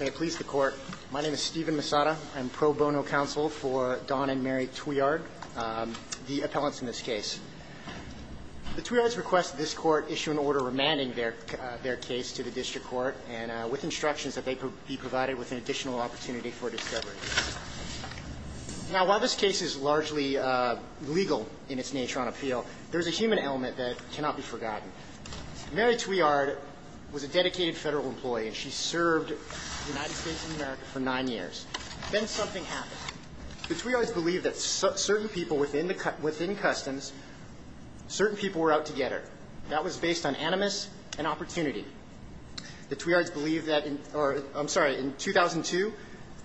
May it please the court, my name is Steven Misada. I'm pro bono counsel for Don and Mary Thuillard, the appellants in this case. The Thuillards request this court issue an order remanding their case to the district court and with instructions that they be provided with an additional opportunity for discovery. Now while this case is largely legal in its nature on appeal, there's a human element that cannot be forgotten. Mary Thuillard was a dedicated Federal employee, and she served the United States of America for nine years. Then something happened. The Thuillards believe that certain people within the Customs, certain people were out to get her. That was based on animus and opportunity. The Thuillards believe that in or I'm sorry, in 2002,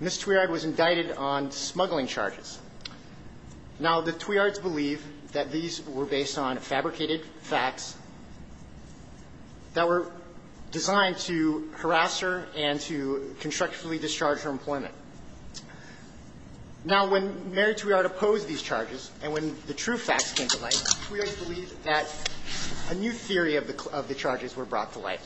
Ms. Thuillard was indicted on smuggling charges. Now the Thuillards believe that these were based on fabricated facts that were designed to harass her and to constructively discharge her employment. Now when Mary Thuillard opposed these charges and when the true facts came to light, the Thuillards believe that a new theory of the charges were brought to light,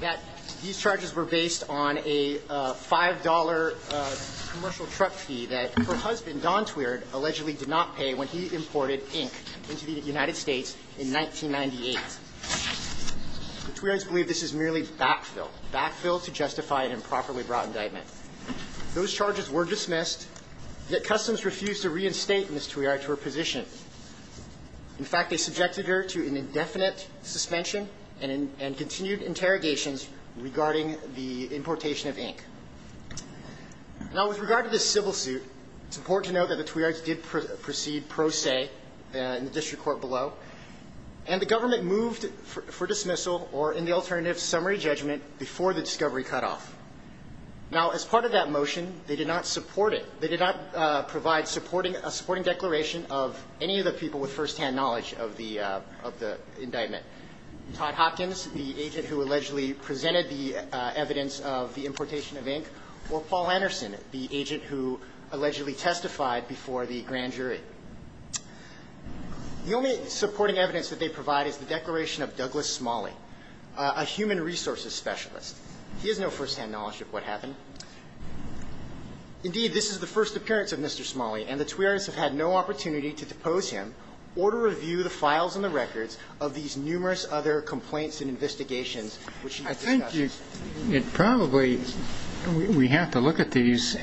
that these charges were based on a $5 commercial truck fee that her husband, Don Thuillard, allegedly did not pay when he imported ink into the United States in 1998. The Thuillards believe this is merely backfill, backfill to justify an improperly brought indictment. Those charges were dismissed, yet Customs refused to reinstate Ms. Thuillard to her position. In fact, they subjected her to an indefinite suspension and continued interrogations regarding the importation of ink. Now with regard to this civil suit, it's important to note that the Thuillards did proceed pro se in the district court below, and the government moved the case forward. They moved for dismissal or, in the alternative, summary judgment before the discovery cutoff. Now, as part of that motion, they did not support it. They did not provide supporting – a supporting declaration of any of the people with firsthand knowledge of the – of the indictment. Todd Hopkins, the agent who allegedly presented the evidence of the importation of ink, or Paul Anderson, the agent who allegedly testified before the grand jury. The only supporting evidence that they provide is the declaration of Douglas Smalley, a human resources specialist. He has no firsthand knowledge of what happened. Indeed, this is the first appearance of Mr. Smalley, and the Thuillards have had no opportunity to depose him or to review the files and the records of these numerous other complaints and investigations which he discussed. I think you – it probably – we have to look at these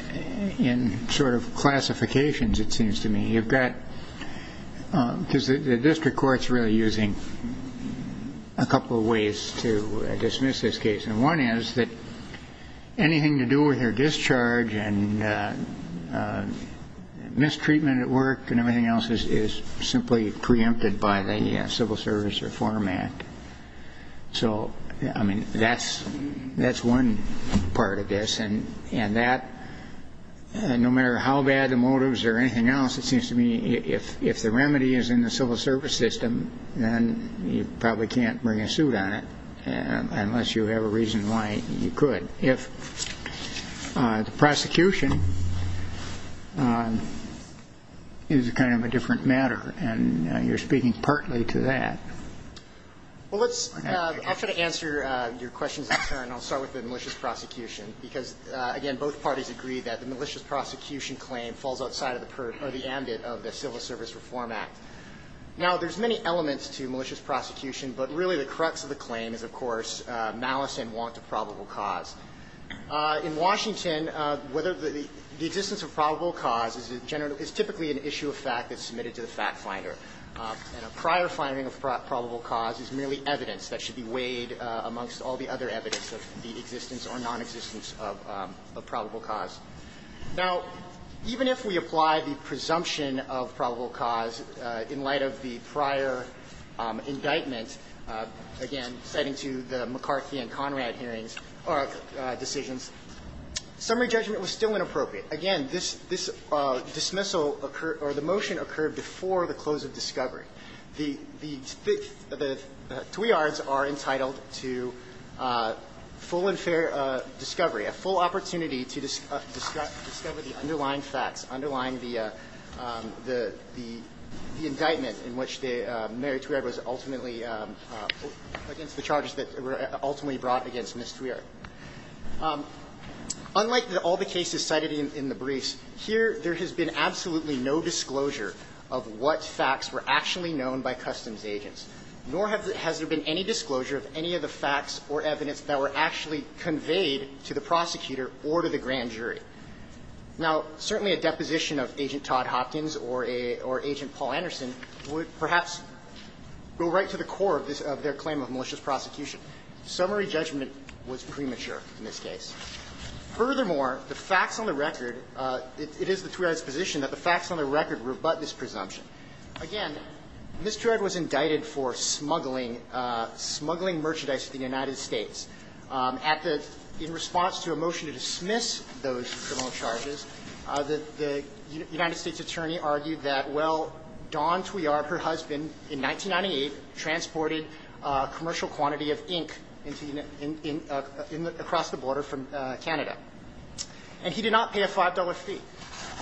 in sort of classifications, it seems to me. You've got – because the district court's really using a couple of ways to dismiss this case. And one is that anything to do with their discharge and mistreatment at work and everything else is simply preempted by the Civil Service Reform Act. So, I mean, that's – that's one part of this. And that – no matter how bad the motives or anything else, it seems to me, if the remedy is in the civil service system, then you probably can't bring a suit on it, unless you have a reason why you could. If the prosecution is kind of a different matter, and you're speaking partly to that. Well, let's – I'll try to answer your questions next time, and I'll start with malicious prosecution, because, again, both parties agree that the malicious prosecution claim falls outside of the – or the ambit of the Civil Service Reform Act. Now, there's many elements to malicious prosecution, but really the crux of the claim is, of course, malice and want of probable cause. In Washington, whether the – the existence of probable cause is typically an issue of fact that's submitted to the fact finder. And a prior finding of probable cause is merely evidence that should be weighed amongst all the other evidence of the existence or nonexistence of probable cause. Now, even if we apply the presumption of probable cause in light of the prior indictment, again, citing to the McCarthy and Conrad hearings – or decisions, summary judgment was still inappropriate. Again, this – this dismissal occurred – or the motion occurred before the close of discovery. The – the Twiards are entitled to full and fair discovery, a full opportunity to discover the underlying facts, underlying the – the indictment in which the – Mary Twiard was ultimately against the charges that were ultimately brought against Ms. Twiard. Unlike all the cases cited in the briefs, here there has been absolutely no disclosure of what facts were actually known by customs agents, nor has there been any disclosure of any of the facts or evidence that were actually conveyed to the prosecutor or to the grand jury. Now, certainly a deposition of Agent Todd Hopkins or a – or Agent Paul Anderson would perhaps go right to the core of this – of their claim of malicious prosecution. Summary judgment was premature in this case. Furthermore, the facts on the record – it is the Twiards' position that the facts on the record rebut this presumption. Again, Ms. Twiard was indicted for smuggling – smuggling merchandise to the United States. At the – in response to a motion to dismiss those criminal charges, the – the United States attorney argued that, well, Dawn Twiard, her husband, in 1998, transported a commercial quantity of ink into – across the border from Canada. And he did not pay a $5 fee.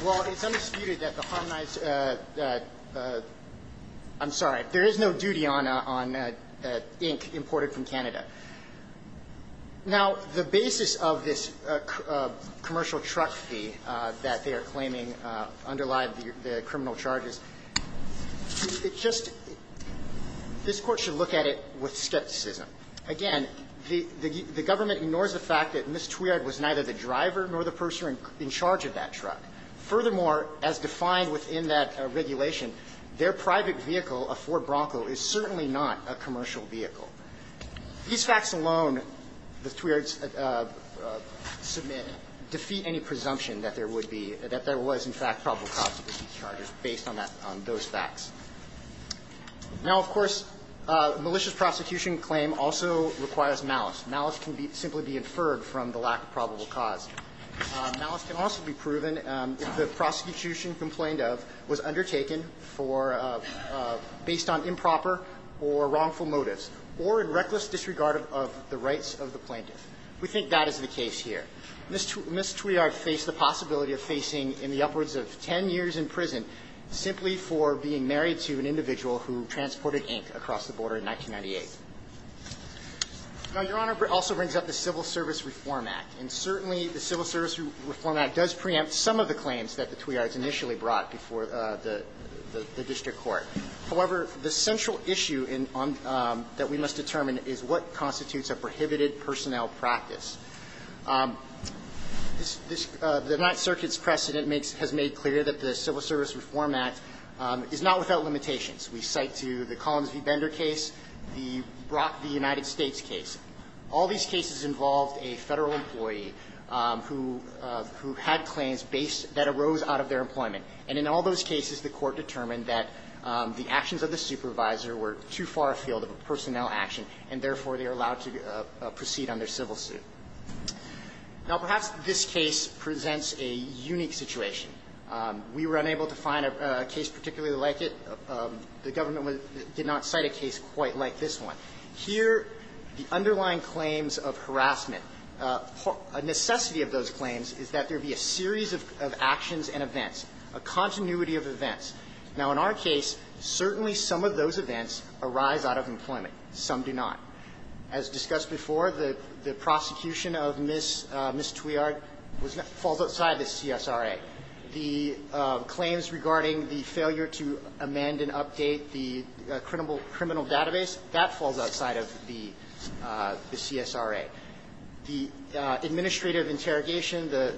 Well, it's undisputed that the harmonized – I'm sorry. There is no duty on ink imported from Canada. Now, the basis of this commercial truck fee that they are claiming underlied the criminal charges. It just – this Court should look at it with skepticism. Again, the – the government ignores the fact that Ms. Twiard was neither the driver nor the person in charge of that truck. Furthermore, as defined within that regulation, their private vehicle, a Ford Bronco, is certainly not a commercial vehicle. These facts alone, the Twiards submit, defeat any presumption that there would be – that there was, in fact, probable cause of the key charges based on that – on those facts. Now, of course, malicious prosecution claim also requires malice. Malice can be – simply be inferred from the lack of probable cause. Malice can also be proven if the prosecution complained of – was undertaken for – based on improper or wrongful motives or in reckless disregard of the rights of the plaintiff. We think that is the basis of the Twiards' claim. The Twiards' claim is that Ms. Twiard was convicted of 10 years in prison simply for being married to an individual who transported ink across the border in 1998. Now, Your Honor also brings up the Civil Service Reform Act. And certainly, the Civil Service Reform Act does preempt some of the claims that the Twiards initially brought before the district court. However, the central issue in – that we must reiterate that the Civil Service Reform Act is not without limitations. We cite to the Collins v. Bender case, the Brock v. United States case. All these cases involved a Federal employee who – who had claims based – that arose out of their employment. And in all those cases, the Court determined that the actions of the supervisor were too far afield of a personnel action, and therefore, they are allowed to proceed under civil suit. Now, perhaps this case presents a unique situation. We were unable to find a case particularly like it. The government did not cite a case quite like this one. Here, the underlying claims of harassment, a necessity of those claims is that there be a series of actions and events, a continuity of events. Now, in our case, certainly some of those events arise out of employment. Some do not. As discussed before, the – the prosecution of Ms. Twiard was – falls outside the CSRA. The claims regarding the failure to amend and update the criminal database, that falls outside of the CSRA. The administrative interrogation, the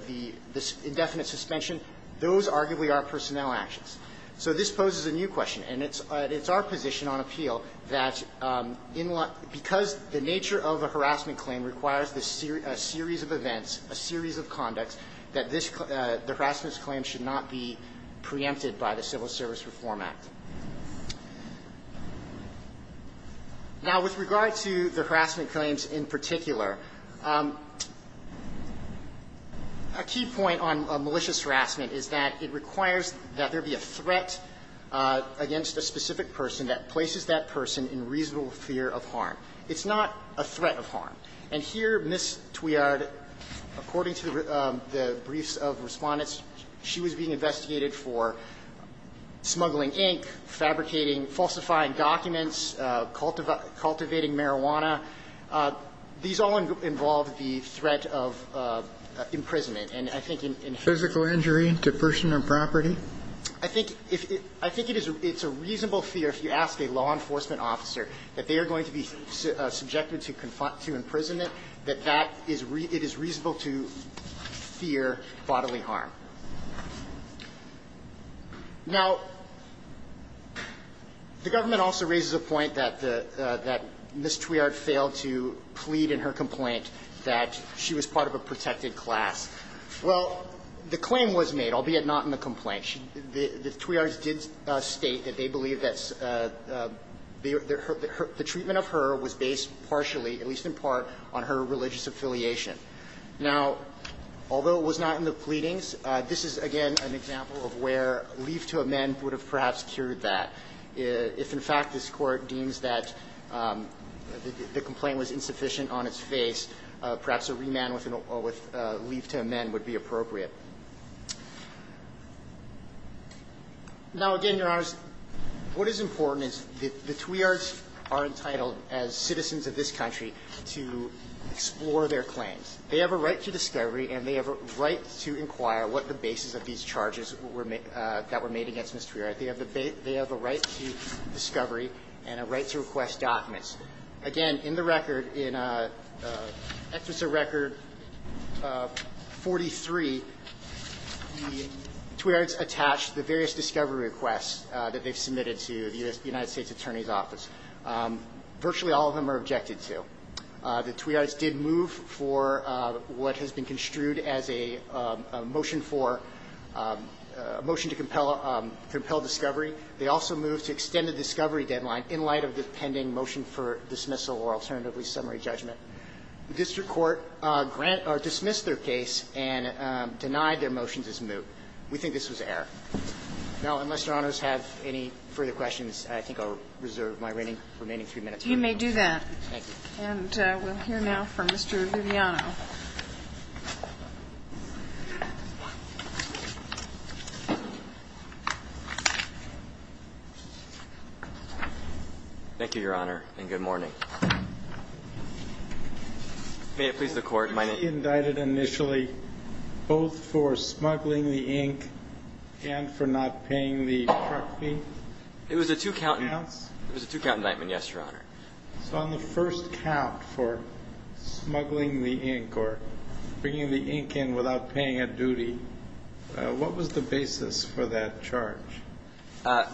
– the indefinite suspension, those arguably are personnel actions. So this poses a new question, and it's – it's our position on appeal that in – because the nature of a harassment claim requires a series of events, a series of conducts, that this – the harassment claim should not be preempted by the Civil Service Reform Act. Now, with regard to the harassment claims in particular, a key point on malicious harassment is that it requires that there be a threat against a specific person that places that person in reasonable fear of harm. It's not a threat of harm. And here, Ms. Twiard, according to the briefs of Respondents, she was being investigated for smuggling ink, fabricating, falsifying documents, cultivating marijuana. These all involve the threat of imprisonment. And I think in here – Physical injury to person or property? I think if – I think it is – it's a reasonable fear if you ask a law enforcement officer that they are going to be subjected to confront – to imprisonment, that that is – it is reasonable to fear bodily harm. Now, the government also raises a point that the – that Ms. Twiard failed to plead in her complaint that she was part of a protected class. Well, the claim was made, albeit not in the plea. The Twiards did state that they believe that the treatment of her was based partially, at least in part, on her religious affiliation. Now, although it was not in the pleadings, this is, again, an example of where leave to amend would have perhaps cured that. If in fact this Court deems that the complaint was insufficient on its face, perhaps a remand with leave to amend would be appropriate. Now, again, Your Honors, what is important is that the Twiards are entitled, as citizens of this country, to explore their claims. They have a right to discovery and they have a right to inquire what the basis of these charges were – that were made against Ms. Twiard. They have a right to discovery and a right to request documents. Again, in the record, in Executive Record 43, the Twiards attached the various discovery requests that they've submitted to the U.S. – the United States Attorney's Office. Virtually all of them are objected to. The Twiards did move for what has been construed as a motion for – a motion to compel discovery. They also moved to extend the discovery deadline in light of the pending motion for dismissal or alternatively summary judgment. The district court dismissed their case and denied their motions as moot. We think this was error. Now, unless Your Honors have any further questions, I think I'll Kagan. You may do that. And we'll hear now from Mr. Viviano. Thank you, Your Honor, and good morning. May it please the Court, my name – Was he indicted initially both for smuggling the ink and for not paying the truck fee? It was a two-count indictment, yes, Your Honor. So on the first count for smuggling the ink or bringing the ink in without paying a duty, what was the basis for that charge? I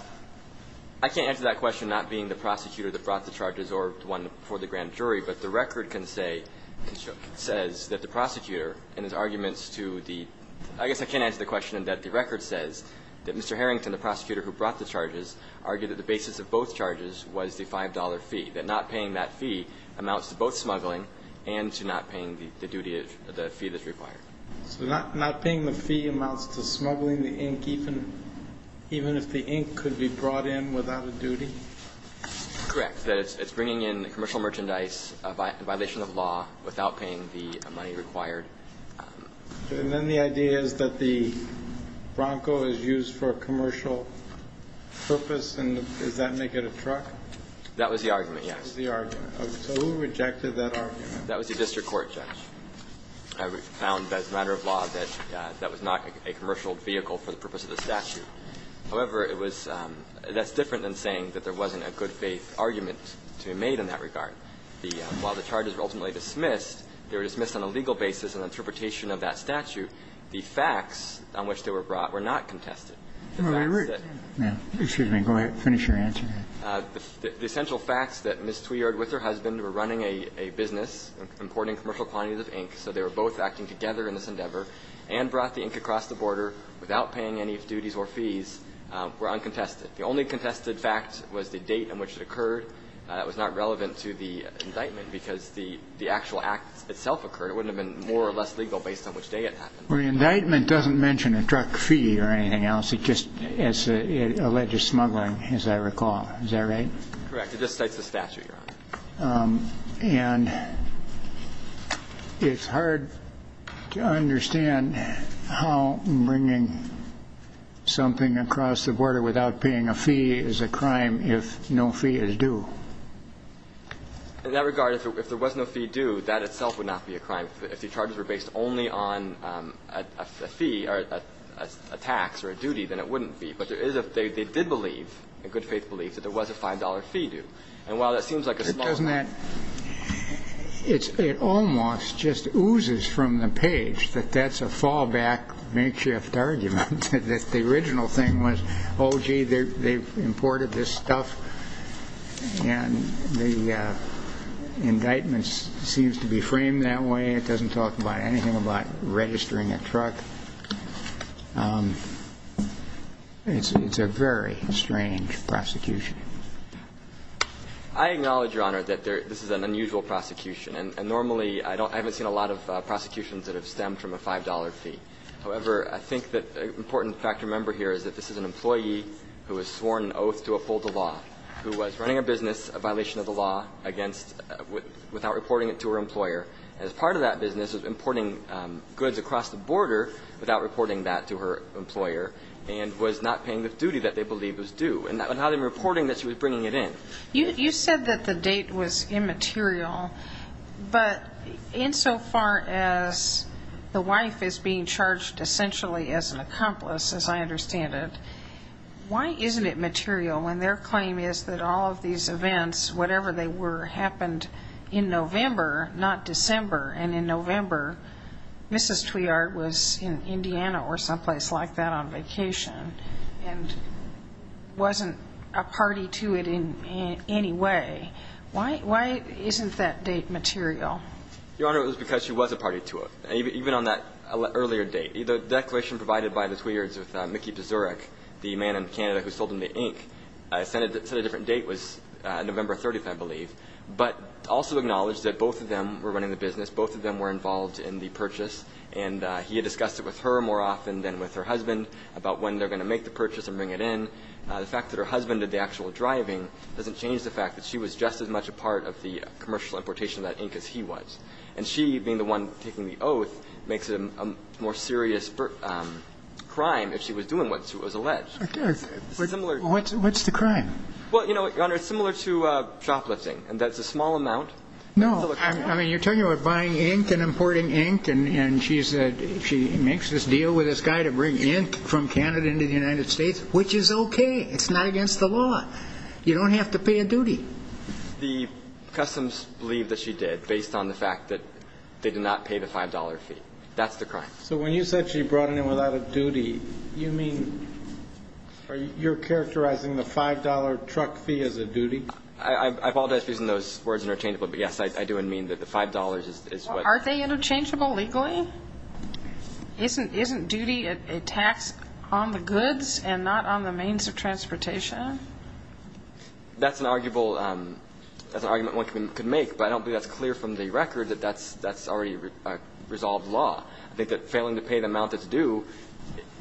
can't answer that question, not being the prosecutor that brought the charges or one for the grand jury, but the record can say – says that the prosecutor and his arguments to the – I guess I can't answer the question that the record says, that Mr. Harrington, the prosecutor who brought the charges, argued that the basis of both charges was the $5 fee, that not paying that fee amounts to both smuggling and to not paying the duty – the fee that's required. So not paying the fee amounts to smuggling the ink even – even if the ink could be brought in without a duty? Correct. That it's bringing in commercial merchandise by violation of law without paying the money required. And then the idea is that the Bronco is used for a commercial purpose, and does that make it a truck? That was the argument, yes. So who rejected that argument? That was the district court, Judge. We found as a matter of law that that was not a commercial vehicle for the purpose of the statute. However, it was – that's different than saying that there wasn't a good-faith argument to be made in that regard. The – while the charges were ultimately dismissed, they were dismissed on a legal basis in interpretation of that statute. The facts on which they were brought were not contested. The facts that – Excuse me. Go ahead. Finish your answer. The essential facts that Ms. Twiard with her husband were running a business importing commercial quantities of ink, so they were both acting together in this endeavor, and brought the ink across the border without paying any duties or fees were uncontested. The only contested fact was the date on which it occurred. It was not relevant to the indictment because the actual act itself occurred. It wouldn't have been more or less legal based on which day it happened. Well, the indictment doesn't mention a truck fee or anything else. It just – it alleges smuggling, as I recall. Is that right? Correct. It just cites the statute, Your Honor. And it's hard to understand how bringing something across the border without paying a fee is a crime if no fee is due. In that regard, if there was no fee due, that itself would not be a crime. If the charges were based only on a fee or a tax or a duty, then it wouldn't be. But there is a – they did believe, in good faith belief, that there was a $5 fee due. And while that seems like a small amount. Doesn't that – it almost just oozes from the page that that's a fallback, makeshift argument. That the original thing was, oh, gee, they've imported this stuff and the indictment seems to be framed that way. It doesn't talk about anything about registering a truck. It's a very strange prosecution. I acknowledge, Your Honor, that this is an unusual prosecution. And normally I don't – I haven't seen a lot of prosecutions that have stemmed from a $5 fee. However, I think that an important fact to remember here is that this is an employee who has sworn an oath to uphold the law, who was running a business, a violation of the law, against – without reporting it to her employer. And as part of that business, was importing goods across the border without reporting that to her employer, and was not paying the duty that they believed was due. And now they're reporting that she was bringing it in. You said that the date was immaterial. But insofar as the wife is being charged essentially as an accomplice, as I understand it, why isn't it material when their claim is that all of these events, whatever they were, happened in November, not December. And in November, Mrs. Twiart was in Indiana or someplace like that on vacation and wasn't a party to it in any way. Why isn't that date material? Your Honor, it was because she was a party to it, even on that earlier date. The declaration provided by the Twiarts with Mickey Pizuric, the man in Canada who sold them the ink, set a different date. It was November 30th, I believe. But also acknowledged that both of them were running the business. Both of them were involved in the purchase. And he had discussed it with her more often than with her husband about when they're going to make the purchase and bring it in. The fact that her husband did the actual driving doesn't change the fact that she was just as much a part of the commercial importation of that ink as he was. And she, being the one taking the oath, makes it a more serious crime if she was doing what was alleged. What's the crime? Well, Your Honor, it's similar to shoplifting. And that's a small amount. No. I mean, you're talking about buying ink and importing ink. And she makes this deal with this guy to bring ink from Canada into the United States, which is okay. It's not against the law. You don't have to pay a duty. The customs believe that she did based on the fact that they did not pay the $5 fee. That's the crime. So when you said she brought it in without a duty, you mean you're characterizing the $5 truck fee as a duty? I apologize for using those words interchangeably, but, yes, I do mean that the $5 is what Aren't they interchangeable legally? Isn't duty a tax on the goods and not on the means of transportation? That's an argument one could make, but I don't think that's clear from the record that that's already a resolved law. I think that failing to pay the amount that's due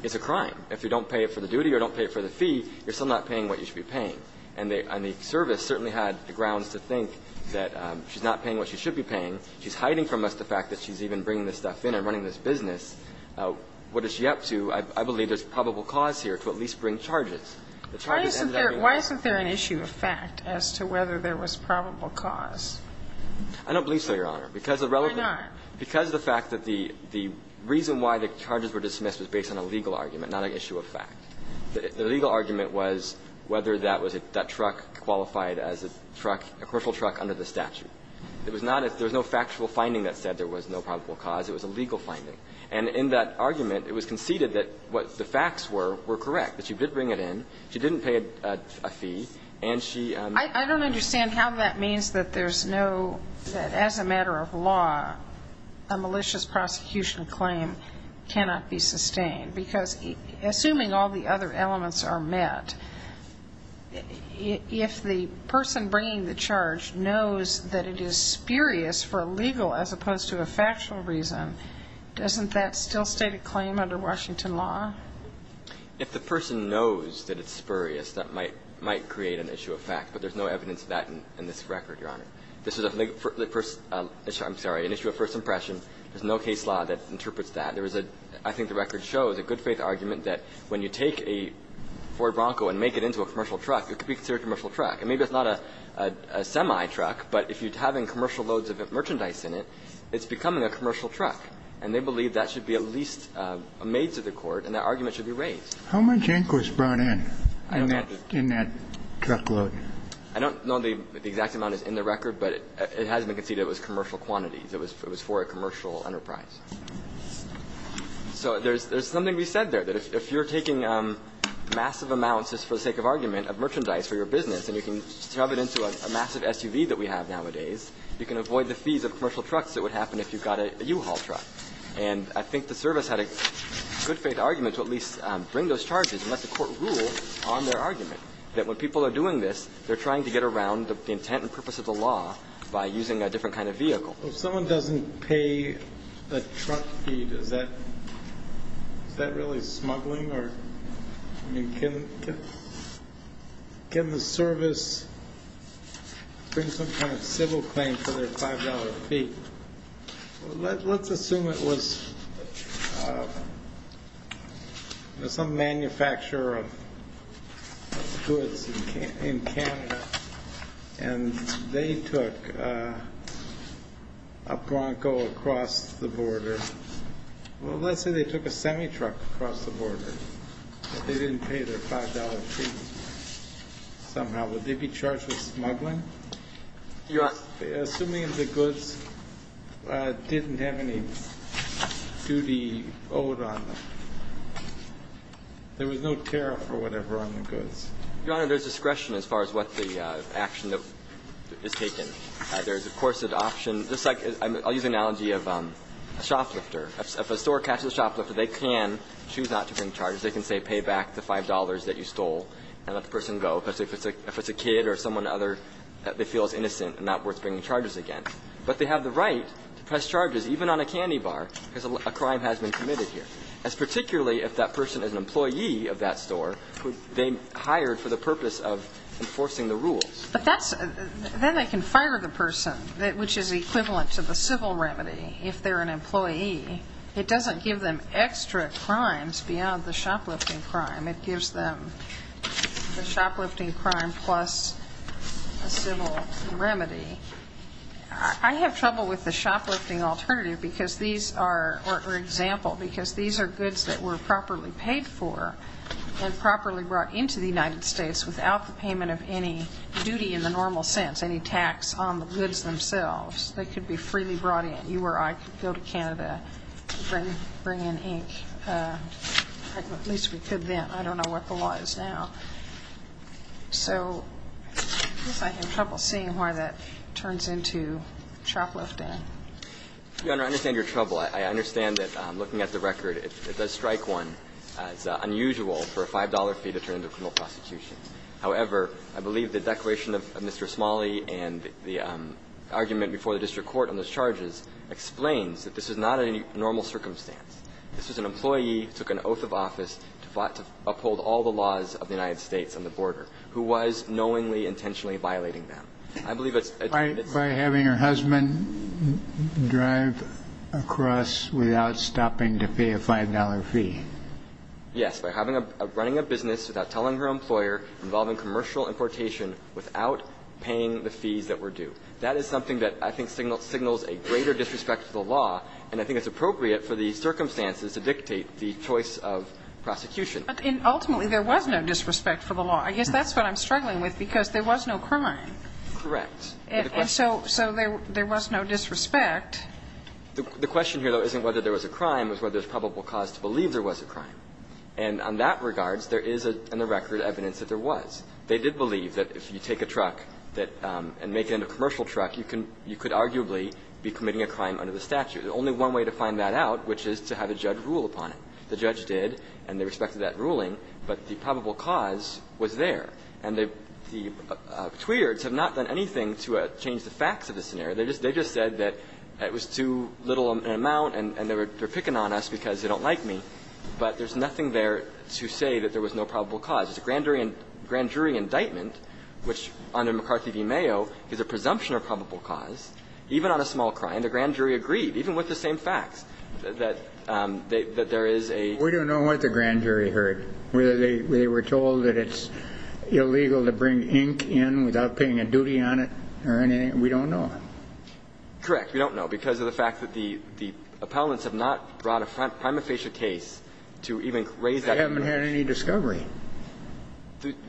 is a crime. If you don't pay it for the duty or don't pay it for the fee, you're still not paying what you should be paying. And the service certainly had the grounds to think that she's not paying what she should be paying. She's hiding from us the fact that she's even bringing this stuff in and running this business. What is she up to? I believe there's probable cause here to at least bring charges. Why isn't there an issue of fact as to whether there was probable cause? I don't believe so, Your Honor. Why not? Because of the fact that the reason why the charges were dismissed was based on a legal argument, not an issue of fact. The legal argument was whether that was a truck qualified as a truck, a commercial truck under the statute. It was not a – there was no factual finding that said there was no probable cause. It was a legal finding. And in that argument, it was conceded that what the facts were were correct, that she did bring it in, she didn't pay a fee, and she – I don't understand how that means that there's no – that as a matter of law, a malicious prosecution claim cannot be sustained. Because assuming all the other elements are met, if the person bringing the charge knows that it is spurious for a legal as opposed to a factual reason, doesn't that still state a claim under Washington law? If the person knows that it's spurious, that might create an issue of fact. But there's no evidence of that in this record, Your Honor. This is a first – I'm sorry, an issue of first impression. There's no case law that interprets that. There was a – I think the record shows a good-faith argument that when you take a Ford Bronco and make it into a commercial truck, it could be considered a commercial truck. And maybe it's not a semi-truck, but if you're having commercial loads of merchandise in it, it's becoming a commercial truck. And they believe that should be at least made to the court, and that argument should be raised. How much ink was brought in, in that truckload? I don't know the exact amount that's in the record, but it has been conceded it was commercial quantities. It was for a commercial enterprise. So there's something we said there, that if you're taking massive amounts, just for the sake of argument, of merchandise for your business and you can shove it into a massive SUV that we have nowadays, you can avoid the fees of commercial trucks that would happen if you got a U-Haul truck. And I think the service had a good-faith argument to at least bring those charges, and let the court rule on their argument, that when people are doing this, they're trying to get around the intent and purpose of the law by using a different kind of vehicle. If someone doesn't pay a truck fee, is that really smuggling? I mean, can the service bring some kind of civil claim for their $5 fee? Let's assume it was some manufacturer of goods in Canada, and they took a Bronco across the border. Well, let's say they took a semi-truck across the border, but they didn't pay their $5 fee somehow. Would they be charged with smuggling? Yes. Assuming the goods didn't have any duty owed on them. There was no tariff or whatever on the goods. Your Honor, there's discretion as far as what the action is taken. There's, of course, an option. Just like I'll use the analogy of a shoplifter. If a store catches a shoplifter, they can choose not to bring charges. They can say pay back the $5 that you stole and let the person go. If it's a kid or someone other, they feel it's innocent and not worth bringing charges against. But they have the right to press charges, even on a candy bar, because a crime has been committed here. That's particularly if that person is an employee of that store who they hired for the purpose of enforcing the rules. Then they can fire the person, which is equivalent to the civil remedy, if they're an employee. It doesn't give them extra crimes beyond the shoplifting crime. It gives them the shoplifting crime plus a civil remedy. I have trouble with the shoplifting alternative because these are example, because these are goods that were properly paid for and properly brought into the United States without the payment of any duty in the normal sense, any tax on the goods themselves. They could be freely brought in. You or I could go to Canada and bring in ink. At least we could then. I don't know where the law is now. So I guess I have trouble seeing where that turns into shoplifting. Your Honor, I understand your trouble. I understand that looking at the record, it does strike one as unusual for a $5 fee to turn into a criminal prosecution. However, I believe the declaration of Mr. Smalley and the argument before the district court on those charges explains that this is not a normal circumstance. This was an employee who took an oath of office to uphold all the laws of the United States on the border who was knowingly, intentionally violating them. I believe it's a different case. By having her husband drive across without stopping to pay a $5 fee. Yes, by running a business without telling her employer, involving commercial importation without paying the fees that were due. That is something that I think signals a greater disrespect to the law, and I think it's appropriate for these circumstances to dictate the choice of prosecution. And ultimately, there was no disrespect for the law. I guess that's what I'm struggling with, because there was no crime. Correct. And so there was no disrespect. The question here, though, isn't whether there was a crime. It's whether there's probable cause to believe there was a crime. And on that regard, there is in the record evidence that there was. They did believe that if you take a truck and make it into a commercial truck, you could arguably be committing a crime under the statute. There's only one way to find that out, which is to have a judge rule upon it. The judge did, and they respected that ruling, but the probable cause was there. And the Tweards have not done anything to change the facts of the scenario. They just said that it was too little an amount and they're picking on us because they don't like me. But there's nothing there to say that there was no probable cause. It's a grand jury indictment, which under McCarthy v. Mayo is a presumption of probable cause, even on a small crime. And the grand jury agreed, even with the same facts, that there is a ---- We don't know what the grand jury heard, whether they were told that it's illegal to bring ink in without paying a duty on it or anything. We don't know. Correct. We don't know because of the fact that the appellants have not brought a prima facie case to even raise that issue. They haven't had any discovery.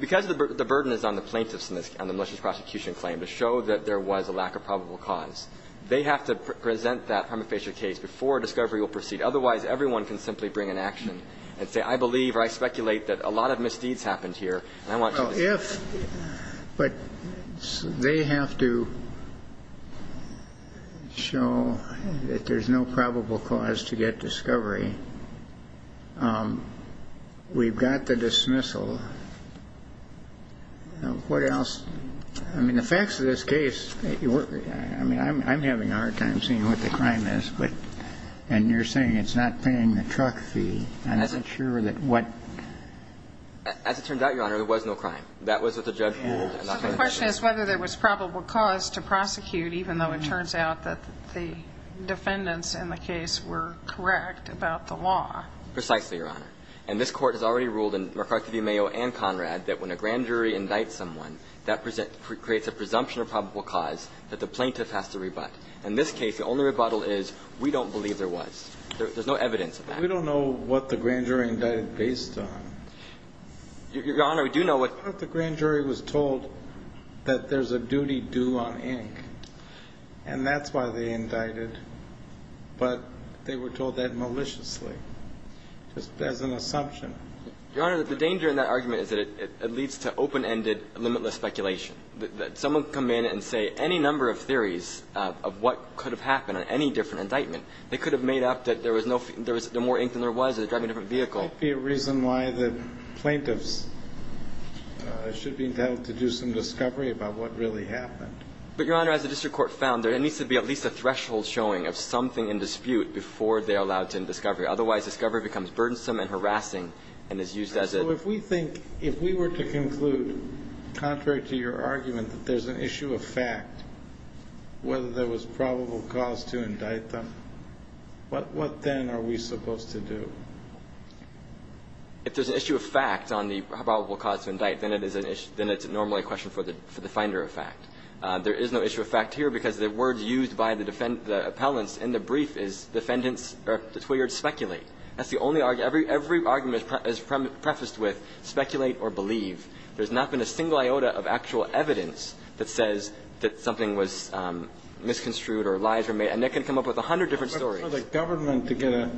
Because the burden is on the plaintiffs on the malicious prosecution claim to show that there was a lack of probable cause. They have to present that prima facie case before discovery will proceed. Otherwise, everyone can simply bring an action and say, I believe or I speculate that a lot of misdeeds happened here and I want to ---- Well, if ---- but they have to show that there's no probable cause to get discovery. We've got the dismissal. What else? I mean, the facts of this case, I mean, I'm having a hard time seeing what the crime is, but you're saying it's not paying the truck fee. I'm not sure that what ---- As it turns out, Your Honor, there was no crime. That was what the judge ruled. So the question is whether there was probable cause to prosecute, even though it turns out that the defendants in the case were correct about the law. Precisely, Your Honor. And this Court has already ruled in McCarthy v. Mayo and Conrad that when a grand jury indicts someone, that creates a presumption of probable cause that the plaintiff has to rebut. In this case, the only rebuttal is we don't believe there was. There's no evidence of that. We don't know what the grand jury indicted based on. Your Honor, we do know what ---- What if the grand jury was told that there's a duty due on ink and that's why they Your Honor, the danger in that argument is that it leads to open-ended, limitless speculation, that someone can come in and say any number of theories of what could have happened on any different indictment. They could have made up that there was no ---- there was more ink than there was, they were driving a different vehicle. Could be a reason why the plaintiffs should be entitled to do some discovery about what really happened. But, Your Honor, as the district court found, there needs to be at least a threshold showing of something in dispute before they are allowed to do discovery. Otherwise, discovery becomes burdensome and harassing and is used as a ---- So if we think, if we were to conclude, contrary to your argument, that there's an issue of fact, whether there was probable cause to indict them, what then are we supposed to do? If there's an issue of fact on the probable cause to indict, then it's normally a question for the finder of fact. There is no issue of fact here because the words used by the defendants, the appellants in the brief is defendants, or the two words speculate. That's the only argument. Every argument is prefaced with speculate or believe. There's not been a single iota of actual evidence that says that something was misconstrued or lies were made. And that can come up with a hundred different stories. But for the government to get a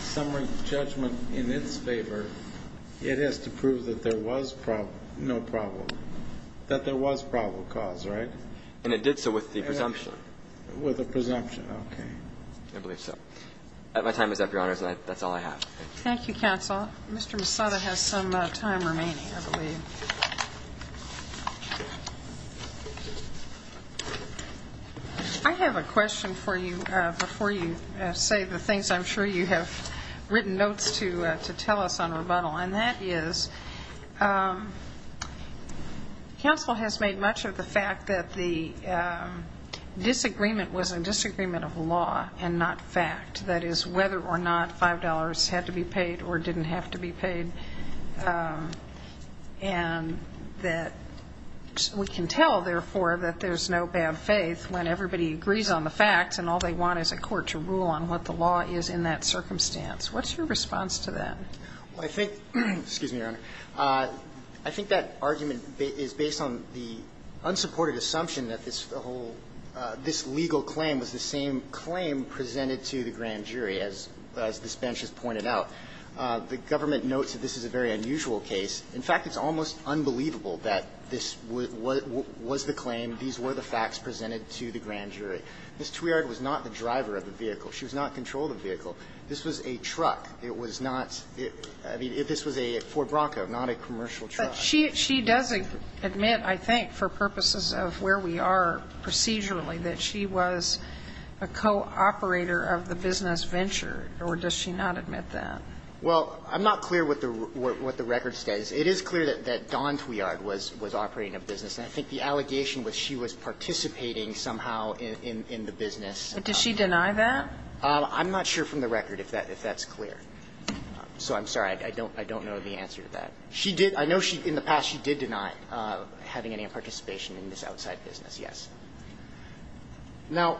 summary judgment in its favor, it has to prove that there was no problem, that there was probable cause, right? And it did so with the presumption. With the presumption. Okay. I believe so. My time is up, Your Honors. That's all I have. Thank you, counsel. Mr. Misada has some time remaining, I believe. I have a question for you before you say the things I'm sure you have written notes to tell us on rebuttal. And that is counsel has made much of the fact that the disagreement was a disagreement of law and not fact. That is, whether or not $5 had to be paid or didn't have to be paid. And that we can tell, therefore, that there's no bad faith when everybody agrees on the facts and all they want is a court to rule on what the law is in that circumstance. What's your response to that? Well, I think, excuse me, Your Honor, I think that argument is based on the unsupported assumption that this whole – this legal claim was the same claim presented to the grand jury, as this bench has pointed out. The government notes that this is a very unusual case. In fact, it's almost unbelievable that this was the claim, these were the facts presented to the grand jury. Ms. Tuiard was not the driver of the vehicle. She was not controlling the vehicle. This was a truck. It was not – I mean, this was a Ford Bronco, not a commercial truck. But she does admit, I think, for purposes of where we are procedurally, that she was a co-operator of the business venture, or does she not admit that? Well, I'm not clear what the record says. It is clear that Dawn Tuiard was operating a business, and I think the allegation was she was participating somehow in the business. Does she deny that? I'm not sure from the record if that's clear. So I'm sorry. I don't know the answer to that. She did – I know in the past she did deny having any participation in this outside business, yes. Now,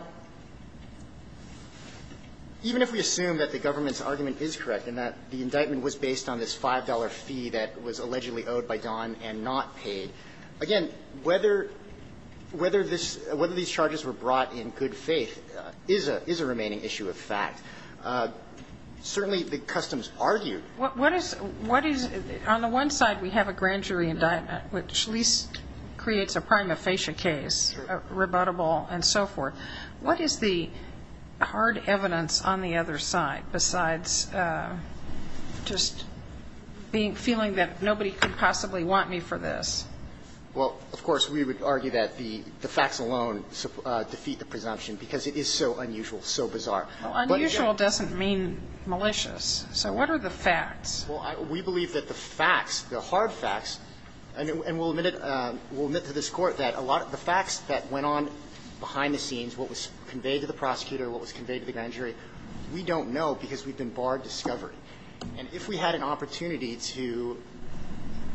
even if we assume that the government's argument is correct and that the indictment was based on this $5 fee that was allegedly owed by Dawn and not paid, again, whether this – whether these charges were brought in good faith is a – is a remaining issue of fact. Certainly, the customs argued. What is – what is – on the one side, we have a grand jury indictment, which at least creates a prima facie case, rebuttable and so forth. What is the hard evidence on the other side besides just feeling that nobody could possibly want me for this? Well, of course, we would argue that the facts alone defeat the presumption because it is so unusual, so bizarre. Unusual doesn't mean malicious. So what are the facts? Well, we believe that the facts, the hard facts – and we'll admit it – we'll admit to this Court that a lot of the facts that went on behind the scenes, what was conveyed to the prosecutor, what was conveyed to the grand jury, we don't know because we've been barred discovery. And if we had an opportunity to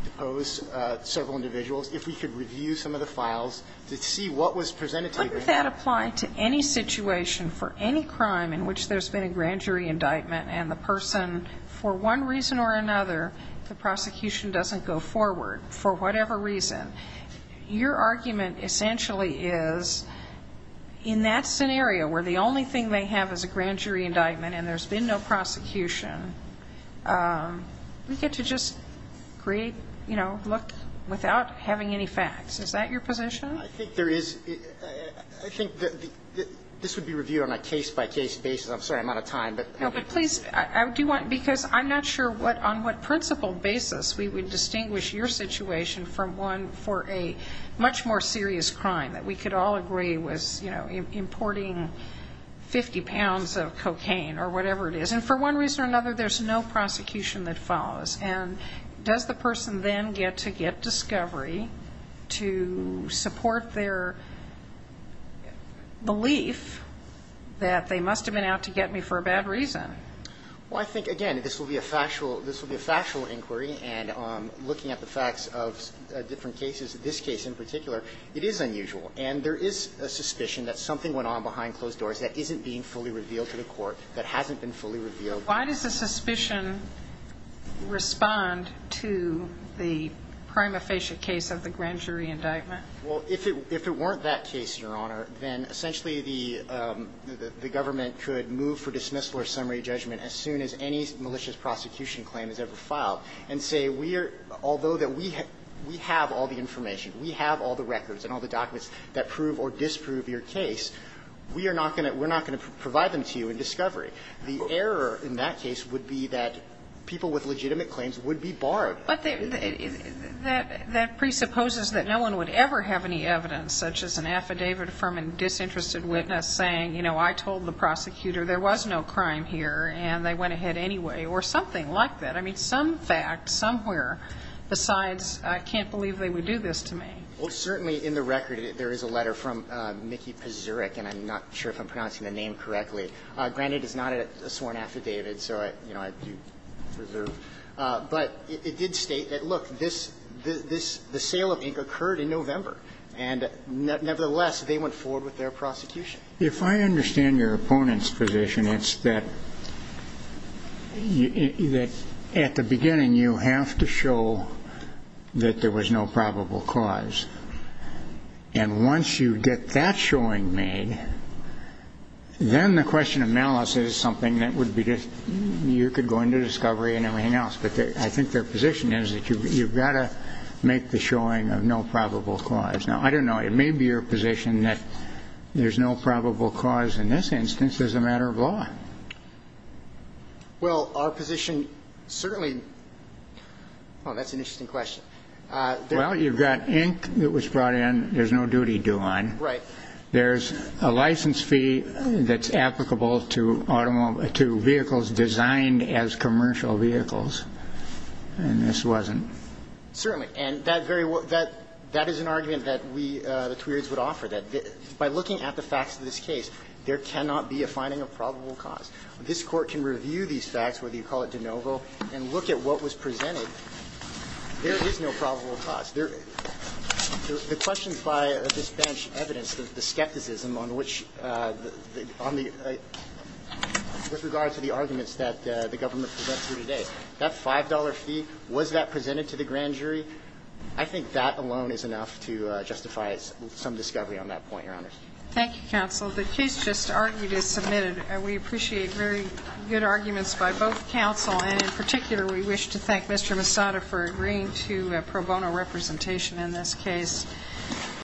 depose several individuals, if we could review some of the files to see what was presented to us. Wouldn't that apply to any situation for any crime in which there's been a grand jury indictment and the person, for one reason or another, the prosecution doesn't go forward for whatever reason? Your argument essentially is in that scenario where the only thing they have is a grand jury indictment and the prosecution, we get to just create, you know, look without having any facts. Is that your position? I think there is – I think this would be reviewed on a case-by-case basis. I'm sorry, I'm out of time. No, but please, I do want – because I'm not sure what – on what principle basis we would distinguish your situation from one for a much more serious crime that we could all agree was, you know, importing 50 pounds of cocaine or whatever it is. And for one reason or another, there's no prosecution that follows. And does the person then get to get discovery to support their belief that they must have been out to get me for a bad reason? Well, I think, again, this will be a factual – this will be a factual inquiry. And looking at the facts of different cases, this case in particular, it is unusual. And there is a suspicion that something went on behind closed doors that isn't being fully revealed to the court, that hasn't been fully revealed. Why does the suspicion respond to the prima facie case of the grand jury indictment? Well, if it weren't that case, Your Honor, then essentially the government could move for dismissal or summary judgment as soon as any malicious prosecution claim is ever filed and say we are – although that we have all the information, we have all the records and all the documents that prove or disprove your case, we are not going to – we're not going to provide them to you in discovery. The error in that case would be that people with legitimate claims would be borrowed. But that presupposes that no one would ever have any evidence such as an affidavit from a disinterested witness saying, you know, I told the prosecutor there was no crime here and they went ahead anyway, or something like that. I mean, some fact somewhere besides I can't believe they would do this to me. Well, certainly in the record there is a letter from Mickey Pazurek, and I'm not sure if I'm pronouncing the name correctly. Granted, it's not a sworn affidavit, so, you know, I do reserve. But it did state that, look, this – this – the sale of ink occurred in November, and nevertheless, they went forward with their prosecution. If I understand your opponent's position, it's that at the beginning you have to show that there was no probable cause. And once you get that showing made, then the question of malice is something that would be just – you could go into discovery and everything else. But I think their position is that you've got to make the showing of no probable cause. Now, I don't know. It may be your position that there's no probable cause in this instance as a matter of law. Well, our position certainly – oh, that's an interesting question. Well, you've got ink that was brought in. There's no duty due on. Right. There's a license fee that's applicable to automobiles – to vehicles designed as commercial vehicles. And this wasn't. Certainly. And that very – that is an argument that we, the Tweeds, would offer, that by looking at the facts of this case, there cannot be a finding of probable cause. This Court can review these facts, whether you call it de novo, and look at what was presented. There is no probable cause. There – the questions by this bench evidence the skepticism on which – on the – with regard to the arguments that the government presents here today. That $5 fee, was that presented to the grand jury? I think that alone is enough to justify some discovery on that point, Your Honors. Thank you, Counsel. The case just argued is submitted. We appreciate very good arguments by both counsel, and in particular, we wish to thank Mr. Misada for agreeing to pro bono representation in this case.